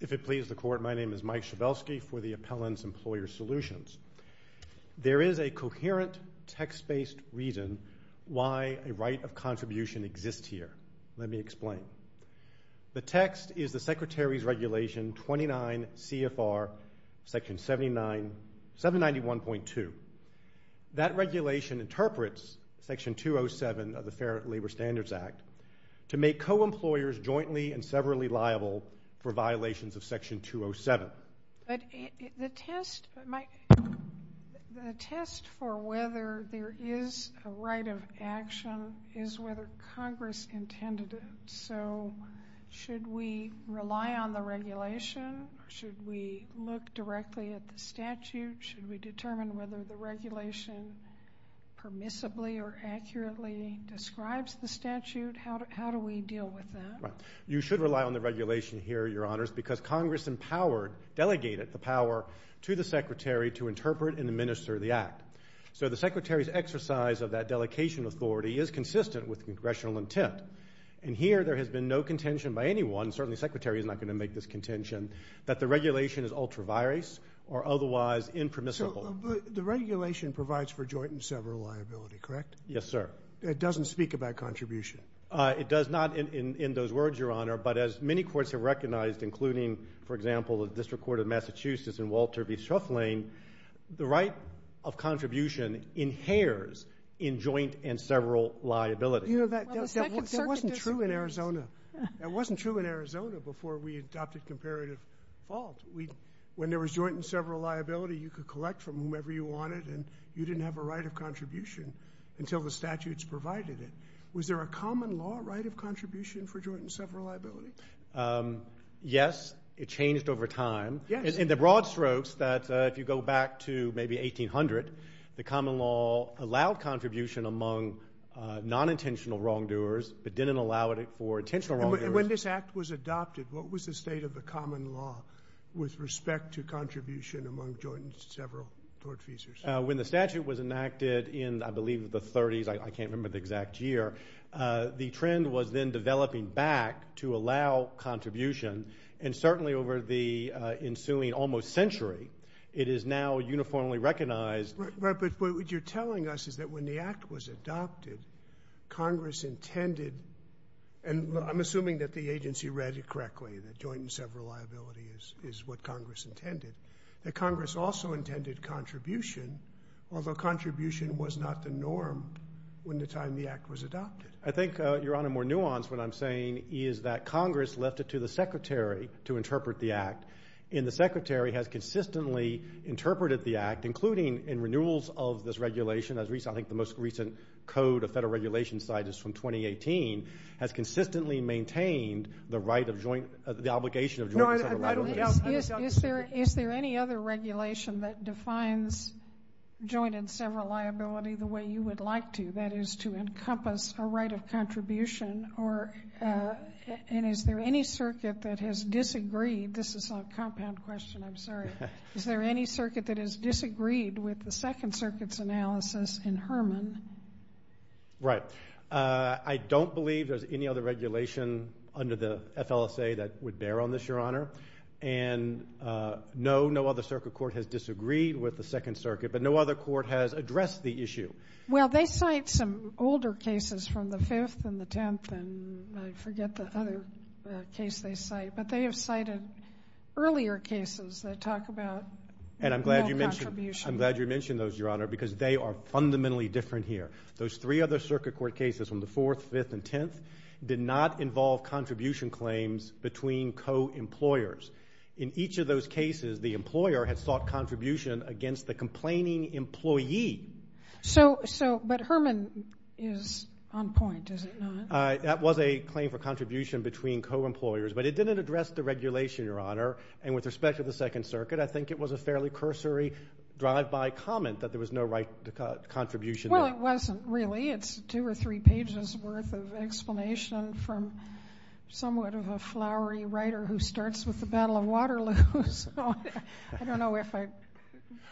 If it pleases the Court, my name is Mike Schabelsky for the Appellant's Employer Solutions. There is a coherent text-based reason why a right of contribution exists here. Let me explain. The text is the Secretary's Regulation 29 CFR, Section 791.2. That regulation interprets Section 207 of the Fair Labor Standards Act to make co-employers jointly and severally liable for violations of Section 207. But the test for whether there is a right of action is whether Congress intended it. So should we rely on the regulation? Should we determine whether the regulation permissibly or accurately describes the statute? How do we deal with that? You should rely on the regulation here, Your Honors, because Congress delegated the power to the Secretary to interpret and administer the Act. So the Secretary's exercise of that delegation authority is consistent with congressional intent. And here there has been no contention by anyone, certainly the Secretary is not going to make this contention, that the regulation is ultra-virus or otherwise impermissible. So the regulation provides for joint and several liability, correct? Yes, sir. It doesn't speak about contribution? It does not in those words, Your Honor. But as many courts have recognized, including, for example, the District Court of Massachusetts in Walter v. Shuffling, the right of contribution inheres in joint and several liability. You know, that wasn't true in Arizona. That wasn't true in Arizona before we adopted comparative fault. When there was joint and several liability, you could collect from whomever you wanted, and you didn't have a right of contribution until the statutes provided it. Was there a common law right of contribution for joint and several liability? Yes. It changed over time. Yes. In the broad strokes that if you go back to maybe 1800, the common law allowed contribution among non-intentional wrongdoers but didn't allow it for intentional wrongdoers. When this act was adopted, what was the state of the common law with respect to contribution among joint and several tortfeasors? When the statute was enacted in, I believe, the 30s, I can't remember the exact year, the trend was then developing back to allow contribution, and certainly over the ensuing almost century, it is now uniformly recognized. Congress intended, and I'm assuming that the agency read it correctly, that joint and several liability is what Congress intended, that Congress also intended contribution, although contribution was not the norm when the time the act was adopted. I think, Your Honor, more nuanced what I'm saying is that Congress left it to the Secretary to interpret the act, and the Secretary has consistently interpreted the act, including in renewals of this regulation, I think the most recent code of federal regulation cited from 2018, has consistently maintained the right of joint, the obligation of joint and several liability. Is there any other regulation that defines joint and several liability the way you would like to, that is to encompass a right of contribution, and is there any circuit that has disagreed, is there any circuit that has disagreed with the Second Circuit's analysis in Herman? Right. I don't believe there's any other regulation under the FLSA that would bear on this, Your Honor, and no, no other circuit court has disagreed with the Second Circuit, but no other court has addressed the issue. Well, they cite some older cases from the Fifth and the Tenth, and I forget the other case they cite, but they have cited earlier cases that talk about no contribution. And I'm glad you mentioned those, Your Honor, because they are fundamentally different here. Those three other circuit court cases from the Fourth, Fifth, and Tenth did not involve contribution claims between co-employers. In each of those cases, the employer had sought contribution against the complaining employee. So, but Herman is on point, is it not? That was a claim for contribution between co-employers, but it didn't address the regulation, Your Honor, and with respect to the Second Circuit, I think it was a fairly cursory drive-by comment that there was no right contribution. Well, it wasn't really. It's two or three pages worth of explanation from somewhat of a flowery writer who starts with the Battle of Waterloo. So I don't know if I,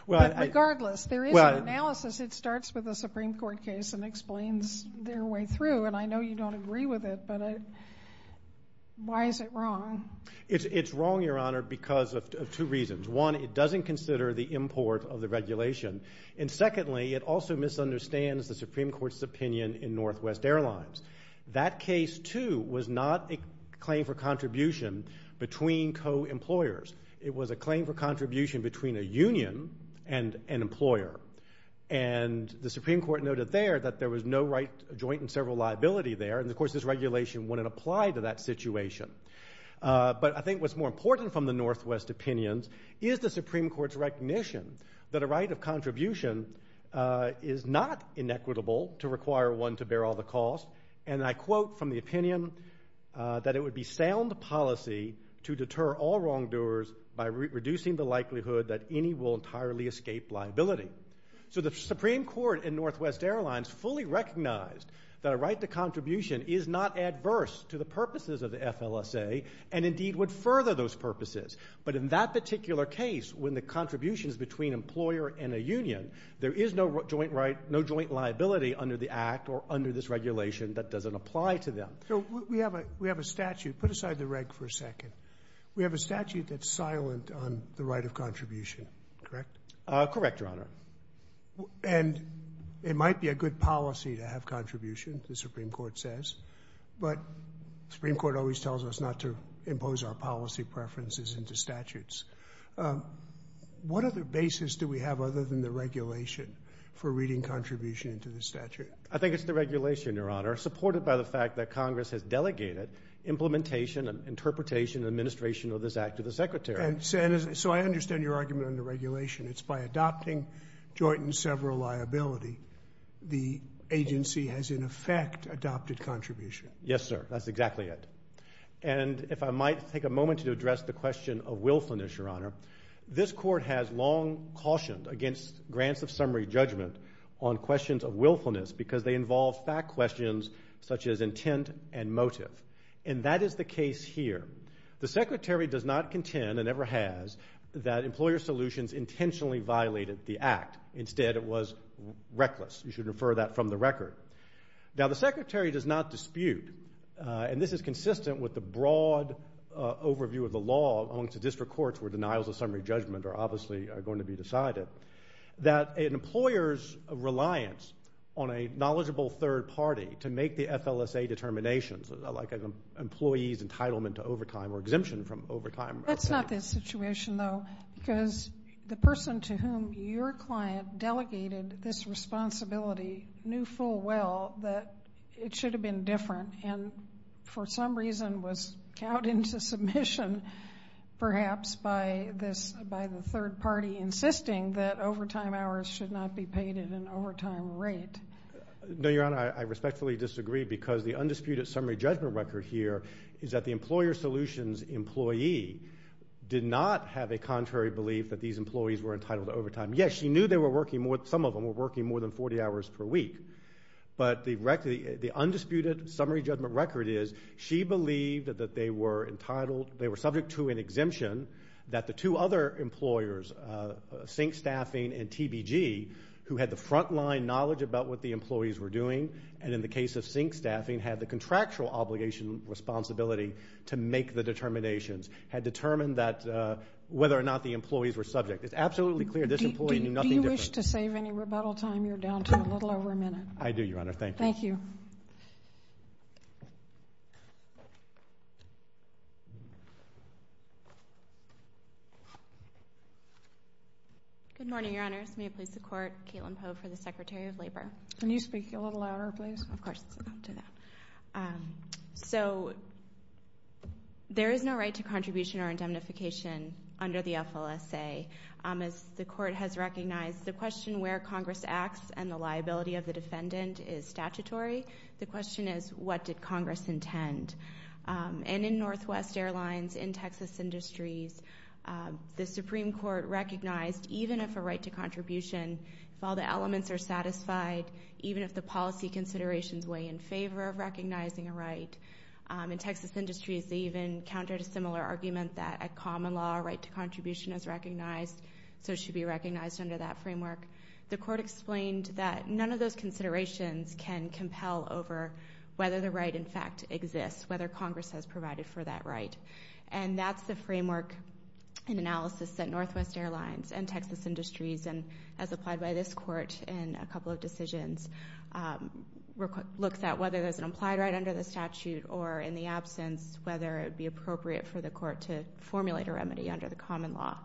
regardless, there is an analysis. It starts with a Supreme Court case and explains their way through, and I know you don't agree with it, but why is it wrong? It's wrong, Your Honor, because of two reasons. One, it doesn't consider the import of the regulation. And secondly, it also misunderstands the Supreme Court's opinion in Northwest Airlines. That case, too, was not a claim for contribution between co-employers. It was a claim for contribution between a union and an employer. And the Supreme Court noted there that there was no right joint in several liability there, and, of course, this regulation wouldn't apply to that situation. But I think what's more important from the Northwest opinions is the Supreme Court's recognition that a right of contribution is not inequitable to require one to bear all the costs, and I quote from the opinion that it would be sound policy to deter all wrongdoers by reducing the likelihood that any will entirely escape liability. So the Supreme Court in Northwest Airlines fully recognized that a right to contribution is not adverse to the purposes of the FLSA and, indeed, would further those purposes. But in that particular case, when the contribution is between employer and a union, there is no joint liability under the act or under this regulation that doesn't apply to them. So we have a statute. Put aside the reg for a second. We have a statute that's silent on the right of contribution, correct? Correct, Your Honor. And it might be a good policy to have contribution, the Supreme Court says, but the Supreme Court always tells us not to impose our policy preferences into statutes. What other basis do we have other than the regulation for reading contribution into the statute? I think it's the regulation, Your Honor, supported by the fact that Congress has delegated implementation and interpretation and administration of this act to the Secretary. So I understand your argument on the regulation. It's by adopting joint and several liability the agency has, in effect, adopted contribution. Yes, sir. That's exactly it. And if I might take a moment to address the question of willfulness, Your Honor. This Court has long cautioned against grants of summary judgment on questions of willfulness because they involve fact questions such as intent and motive. And that is the case here. The Secretary does not contend and never has that Employer Solutions intentionally violated the act. Instead, it was reckless. You should refer that from the record. Now, the Secretary does not dispute, and this is consistent with the broad overview of the law, amongst the district courts where denials of summary judgment are obviously going to be decided, that an employer's reliance on a knowledgeable third party to make the FLSA determinations, like an employee's entitlement to overtime or exemption from overtime. That's not the situation, though, because the person to whom your client delegated this responsibility knew full well that it should have been different and for some reason was cowed into submission perhaps by the third party insisting that overtime hours should not be paid at an overtime rate. No, Your Honor, I respectfully disagree because the undisputed summary judgment record here is that the Employer Solutions employee did not have a contrary belief that these employees were entitled to overtime. Yes, she knew some of them were working more than 40 hours per week, but the undisputed summary judgment record is she believed that they were entitled, they were subject to an exemption that the two other employers, Sink Staffing and TBG, who had the frontline knowledge about what the employees were doing, and in the case of Sink Staffing had the contractual obligation responsibility to make the determinations, had determined that whether or not the employees were subject. It's absolutely clear this employee knew nothing different. If you wish to save any rebuttal time, you're down to a little over a minute. I do, Your Honor. Thank you. Thank you. Good morning, Your Honors. May it please the Court, Caitlin Poe for the Secretary of Labor. Can you speak a little louder, please? Of course, I'll do that. So there is no right to contribution or indemnification under the FLSA. As the Court has recognized, the question where Congress acts and the liability of the defendant is statutory. The question is, what did Congress intend? And in Northwest Airlines, in Texas Industries, the Supreme Court recognized even if a right to contribution, if all the elements are satisfied, even if the policy considerations weigh in favor of recognizing a right. In Texas Industries, they even countered a similar argument that a common law right to contribution is recognized, so it should be recognized under that framework. The Court explained that none of those considerations can compel over whether the right in fact exists, whether Congress has provided for that right. And that's the framework and analysis that Northwest Airlines and Texas Industries, and as applied by this Court in a couple of decisions, looks at whether there's an implied right under the statute or, in the absence, whether it would be appropriate for the Court to formulate a remedy under the common law.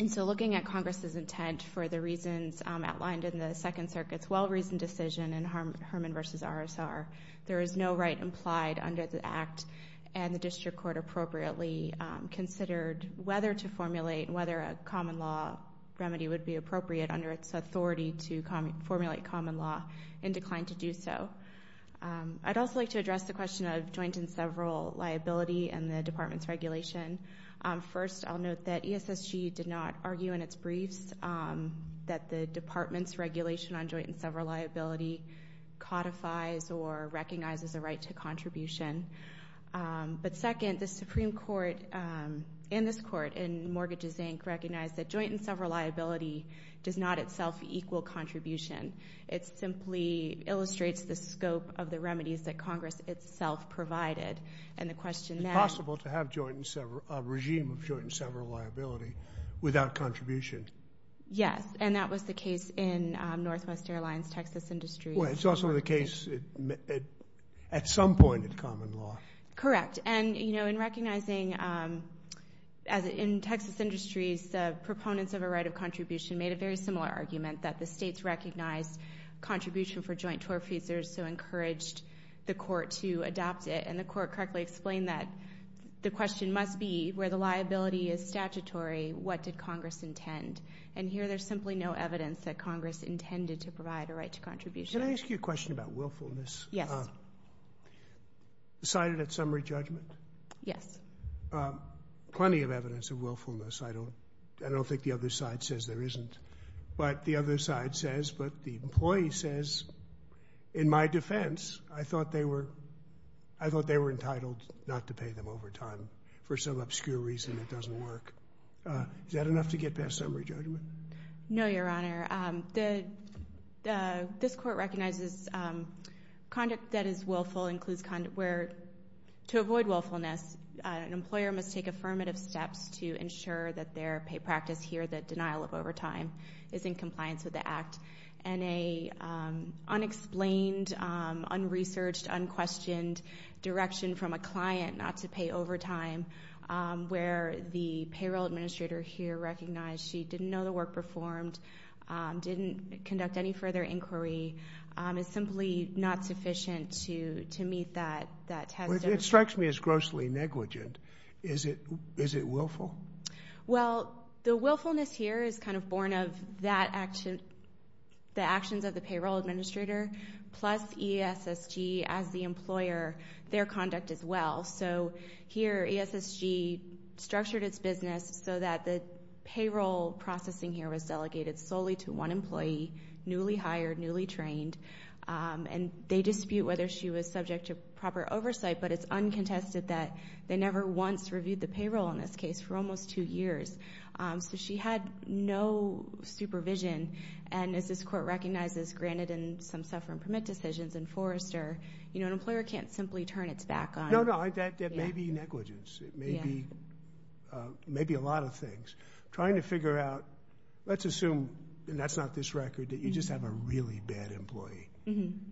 And so looking at Congress's intent for the reasons outlined in the Second Circuit's well-reasoned decision in Herman v. RSR, there is no right implied under the Act, and the District Court appropriately considered whether to formulate, whether a common law remedy would be appropriate under its authority to formulate common law, and declined to do so. I'd also like to address the question of joint and several liability and the Department's regulation. First, I'll note that ESSG did not argue in its briefs that the Department's regulation on joint and several liability codifies or recognizes a right to contribution. But second, the Supreme Court in this Court, in Mortgages, Inc., recognized that joint and several liability does not itself equal contribution. It simply illustrates the scope of the remedies that Congress itself provided. And the question that ‑‑ It's possible to have a regime of joint and several liability without contribution. Yes, and that was the case in Northwest Airlines, Texas Industries. Well, it's also the case at some point in common law. Correct. And, you know, in recognizing, as in Texas Industries, the proponents of a right of contribution made a very similar argument, that the states recognized contribution for joint tort feasors, so encouraged the Court to adopt it. And the Court correctly explained that the question must be where the liability is statutory, what did Congress intend. And here there's simply no evidence that Congress intended to provide a right to contribution. Can I ask you a question about willfulness? Yes. Cited at summary judgment? Yes. Plenty of evidence of willfulness. I don't think the other side says there isn't. But the other side says, but the employee says, in my defense, I thought they were entitled not to pay them overtime. For some obscure reason, it doesn't work. Is that enough to get past summary judgment? No, Your Honor. This Court recognizes conduct that is willful includes conduct where, to avoid willfulness, an employer must take affirmative steps to ensure that their paid practice here, that denial of overtime, is in compliance with the Act. And an unexplained, unresearched, unquestioned direction from a client not to pay overtime, where the payroll administrator here recognized she didn't know the work performed, didn't conduct any further inquiry, is simply not sufficient to meet that test. It strikes me as grossly negligent. Is it willful? Well, the willfulness here is kind of born of the actions of the payroll administrator plus ESSG as the employer, their conduct as well. So here ESSG structured its business so that the payroll processing here was delegated solely to one employee, newly hired, newly trained. And they dispute whether she was subject to proper oversight, but it's uncontested that they never once reviewed the payroll in this case for almost two years. So she had no supervision. And as this Court recognizes, granted in some suffering permit decisions in Forrester, an employer can't simply turn its back on you. No, no. That may be negligence. It may be a lot of things. Trying to figure out, let's assume, and that's not this record, that you just have a really bad employee.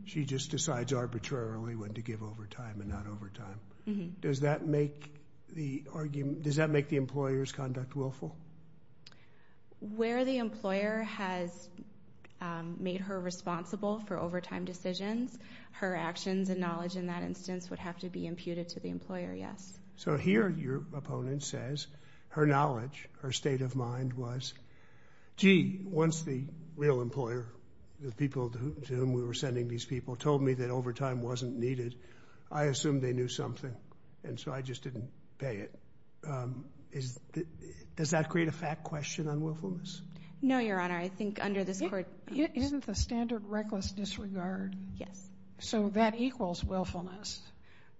She just decides arbitrarily when to give overtime and not overtime. Does that make the employers' conduct willful? Where the employer has made her responsible for overtime decisions, her actions and knowledge in that instance would have to be imputed to the employer, yes. So here your opponent says her knowledge, her state of mind was, gee, once the real employer, the people to whom we were sending these people, told me that overtime wasn't needed, I assumed they knew something, and so I just didn't pay it. Does that create a fact question on willfulness? No, Your Honor. I think under this Court. It isn't the standard reckless disregard. Yes. So that equals willfulness.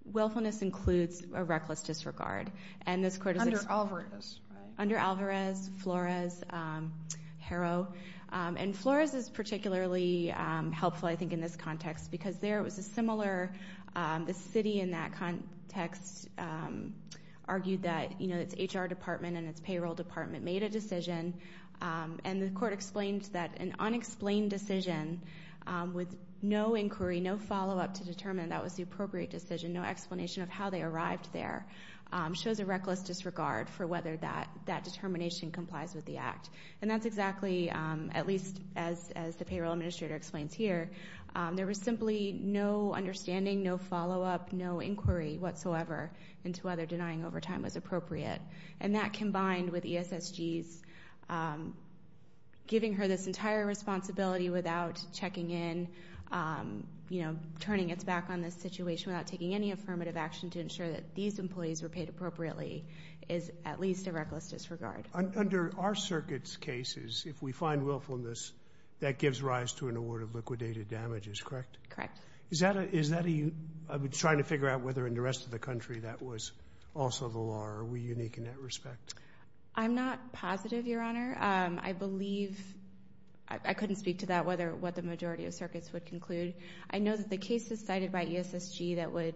Willfulness includes a reckless disregard. Under Alvarez, right? Harrow. And Flores is particularly helpful, I think, in this context because there was a similar city in that context argued that its HR department and its payroll department made a decision, and the Court explained that an unexplained decision with no inquiry, no follow-up to determine that was the appropriate decision, no explanation of how they arrived there, shows a reckless disregard for whether that determination complies with the Act. And that's exactly, at least as the payroll administrator explains here, there was simply no understanding, no follow-up, no inquiry whatsoever into whether denying overtime was appropriate. And that combined with ESSG's giving her this entire responsibility without checking in, you know, turning its back on this situation, without taking any affirmative action to ensure that these employees were paid appropriately, is at least a reckless disregard. Under our circuit's cases, if we find willfulness, that gives rise to an award of liquidated damages, correct? Correct. Is that a, I'm trying to figure out whether in the rest of the country that was also the law, or are we unique in that respect? I'm not positive, Your Honor. I believe, I couldn't speak to that, what the majority of circuits would conclude. I know that the cases cited by ESSG that would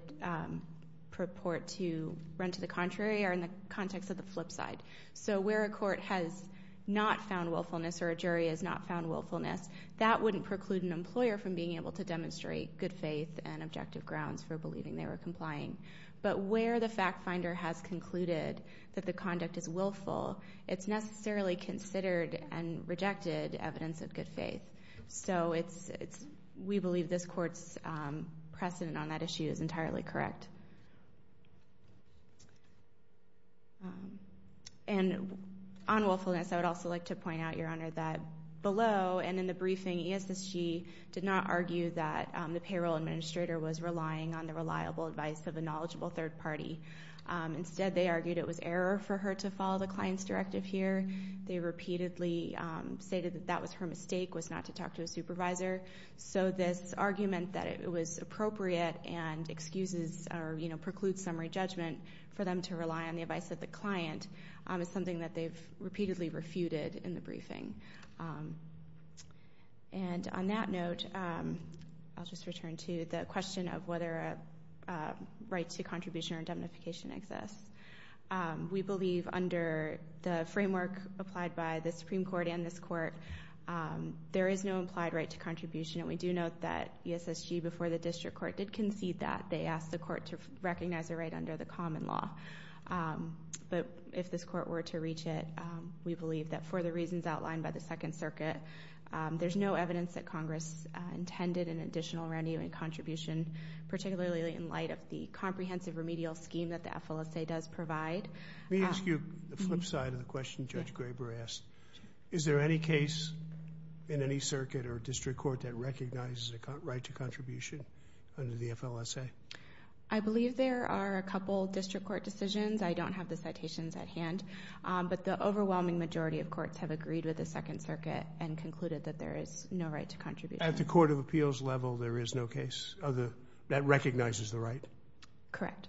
purport to run to the contrary are in the context of the flip side. So where a court has not found willfulness or a jury has not found willfulness, that wouldn't preclude an employer from being able to demonstrate good faith and objective grounds for believing they were complying. But where the fact finder has concluded that the conduct is willful, it's necessarily considered and rejected evidence of good faith. So we believe this court's precedent on that issue is entirely correct. And on willfulness, I would also like to point out, Your Honor, that below and in the briefing, ESSG did not argue that the payroll administrator was relying on the reliable advice of a knowledgeable third party. Instead, they argued it was error for her to follow the client's directive here. They repeatedly stated that that was her mistake, was not to talk to a supervisor. So this argument that it was appropriate and excuses or precludes summary judgment for them to rely on the advice of the client is something that they've repeatedly refuted in the briefing. And on that note, I'll just return to the question of whether a right to contribution or indemnification exists. We believe under the framework applied by the Supreme Court and this court, there is no implied right to contribution. And we do note that ESSG, before the district court, did concede that. They asked the court to recognize a right under the common law. But if this court were to reach it, we believe that for the reasons outlined by the Second Circuit, there's no evidence that Congress intended an additional renewing contribution, particularly in light of the comprehensive remedial scheme that the FLSA does provide. Let me ask you the flip side of the question Judge Graber asked. Is there any case in any circuit or district court that recognizes a right to contribution under the FLSA? I believe there are a couple district court decisions. I don't have the citations at hand. But the overwhelming majority of courts have agreed with the Second Circuit and concluded that there is no right to contribution. At the court of appeals level, there is no case that recognizes the right? Correct.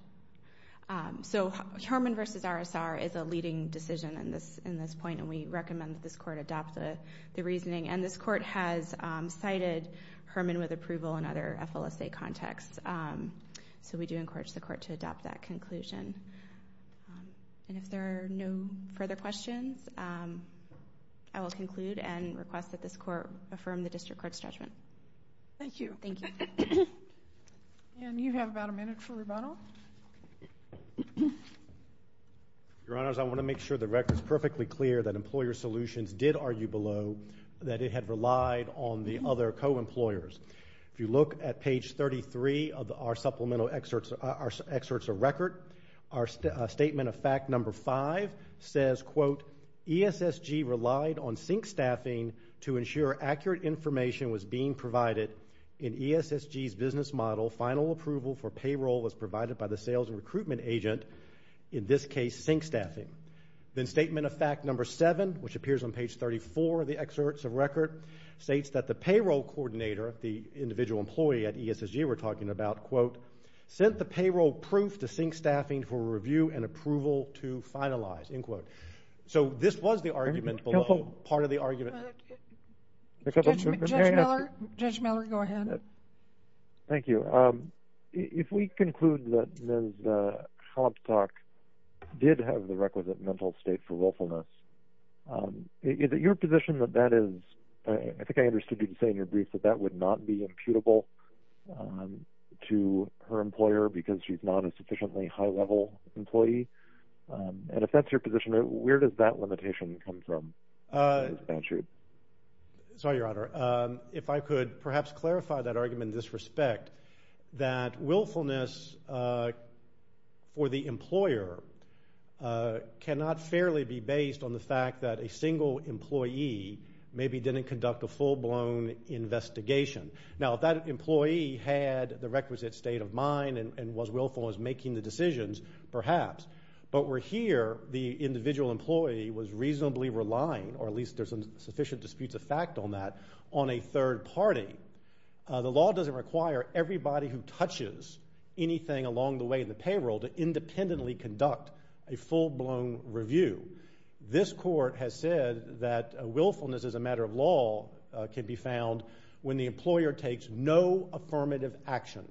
So Herman v. RSR is a leading decision in this point, and we recommend that this court adopt the reasoning. And this court has cited Herman with approval in other FLSA contexts. So we do encourage the court to adopt that conclusion. And if there are no further questions, I will conclude and request that this court affirm the district court's judgment. Thank you. Thank you. And you have about a minute for rebuttal. Your Honors, I want to make sure the record is perfectly clear that Employer Solutions did argue below that it had relied on the other co-employers. If you look at page 33 of our supplemental excerpts of record, ESSG relied on sync staffing to ensure accurate information was being provided in ESSG's business model. Final approval for payroll was provided by the sales and recruitment agent, in this case, sync staffing. Then statement of fact number 7, which appears on page 34 of the excerpts of record, states that the payroll coordinator, the individual employee at ESSG we're talking about, sent the payroll proof to sync staffing for review and approval to finalize. So this was the argument below. Part of the argument... Judge Miller, go ahead. Thank you. If we conclude that Ms. Holmstock did have the requisite mental state for willfulness, is it your position that that is... I think I understood you saying in your brief that that would not be imputable to her employer because she's not a sufficiently high-level employee? And if that's your position, where does that limitation come from? Sorry, Your Honor. If I could perhaps clarify that argument in this respect, that willfulness for the employer cannot fairly be based on the fact that a single employee maybe didn't conduct a full-blown investigation. Now, if that employee had the requisite state of mind and was willful and was making the decisions, perhaps, but where here the individual employee was reasonably relying, or at least there's sufficient disputes of fact on that, on a third party, the law doesn't require everybody who touches anything along the way in the payroll to independently conduct a full-blown review. This Court has said that willfulness as a matter of law can be found when the employer takes no affirmative action.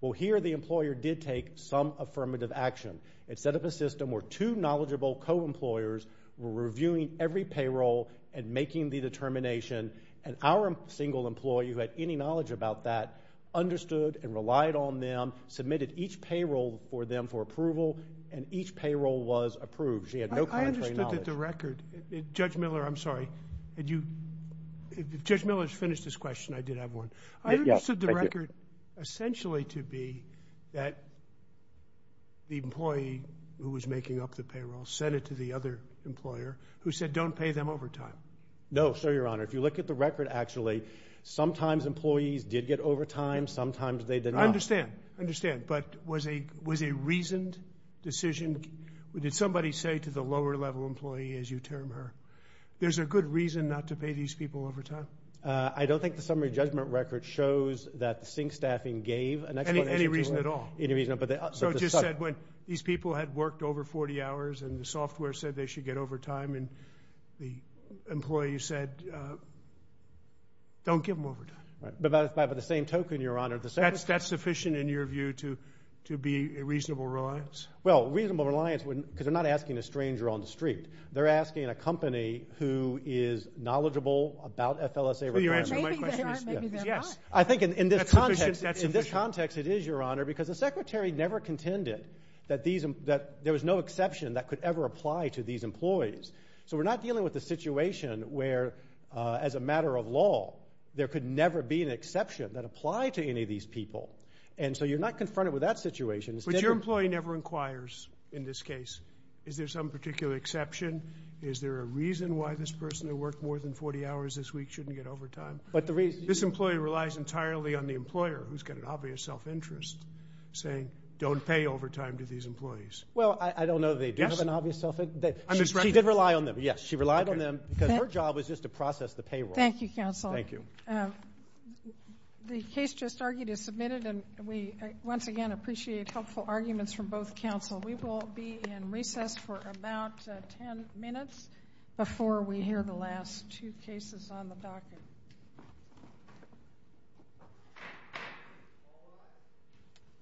Well, here the employer did take some affirmative action. It set up a system where two knowledgeable co-employers were reviewing every payroll and making the determination, and our single employee, who had any knowledge about that, understood and relied on them, submitted each payroll for them for approval, and each payroll was approved. She had no contrary knowledge. I understood that the record... Judge Miller, I'm sorry. Did you... Judge Miller has finished his question. I did have one. I understood the record essentially to be that the employee who was making up the payroll sent it to the other employer who said don't pay them overtime. No, sir, Your Honor. If you look at the record, actually, sometimes employees did get overtime. Sometimes they did not. I understand. I understand, but was a reasoned decision? Did somebody say to the lower-level employee, as you term her, there's a good reason not to pay these people overtime? I don't think the summary judgment record shows that the sink staffing gave an explanation. Any reason at all? Any reason at all. So it just said when these people had worked over 40 hours and the software said they should get overtime, and the employee said don't give them overtime. But by the same token, Your Honor, the service... That's sufficient in your view to be a reasonable reliance? Well, reasonable reliance, because they're not asking a stranger on the street. They're asking a company who is knowledgeable about FLSA requirements. Maybe they aren't. Maybe they're not. I think in this context it is, Your Honor, because the secretary never contended that there was no exception that could ever apply to these employees. So we're not dealing with a situation where, as a matter of law, there could never be an exception that applied to any of these people. And so you're not confronted with that situation. But your employee never inquires in this case, is there some particular exception? Is there a reason why this person who worked more than 40 hours this week shouldn't get overtime? This employee relies entirely on the employer, who's got an obvious self-interest, saying don't pay overtime to these employees. Well, I don't know that they do have an obvious self-interest. She did rely on them, yes. She relied on them because her job was just to process the payroll. Thank you, counsel. Thank you. The case just argued is submitted. And we, once again, appreciate helpful arguments from both counsel. We will be in recess for about ten minutes before we hear the last two cases on the docket.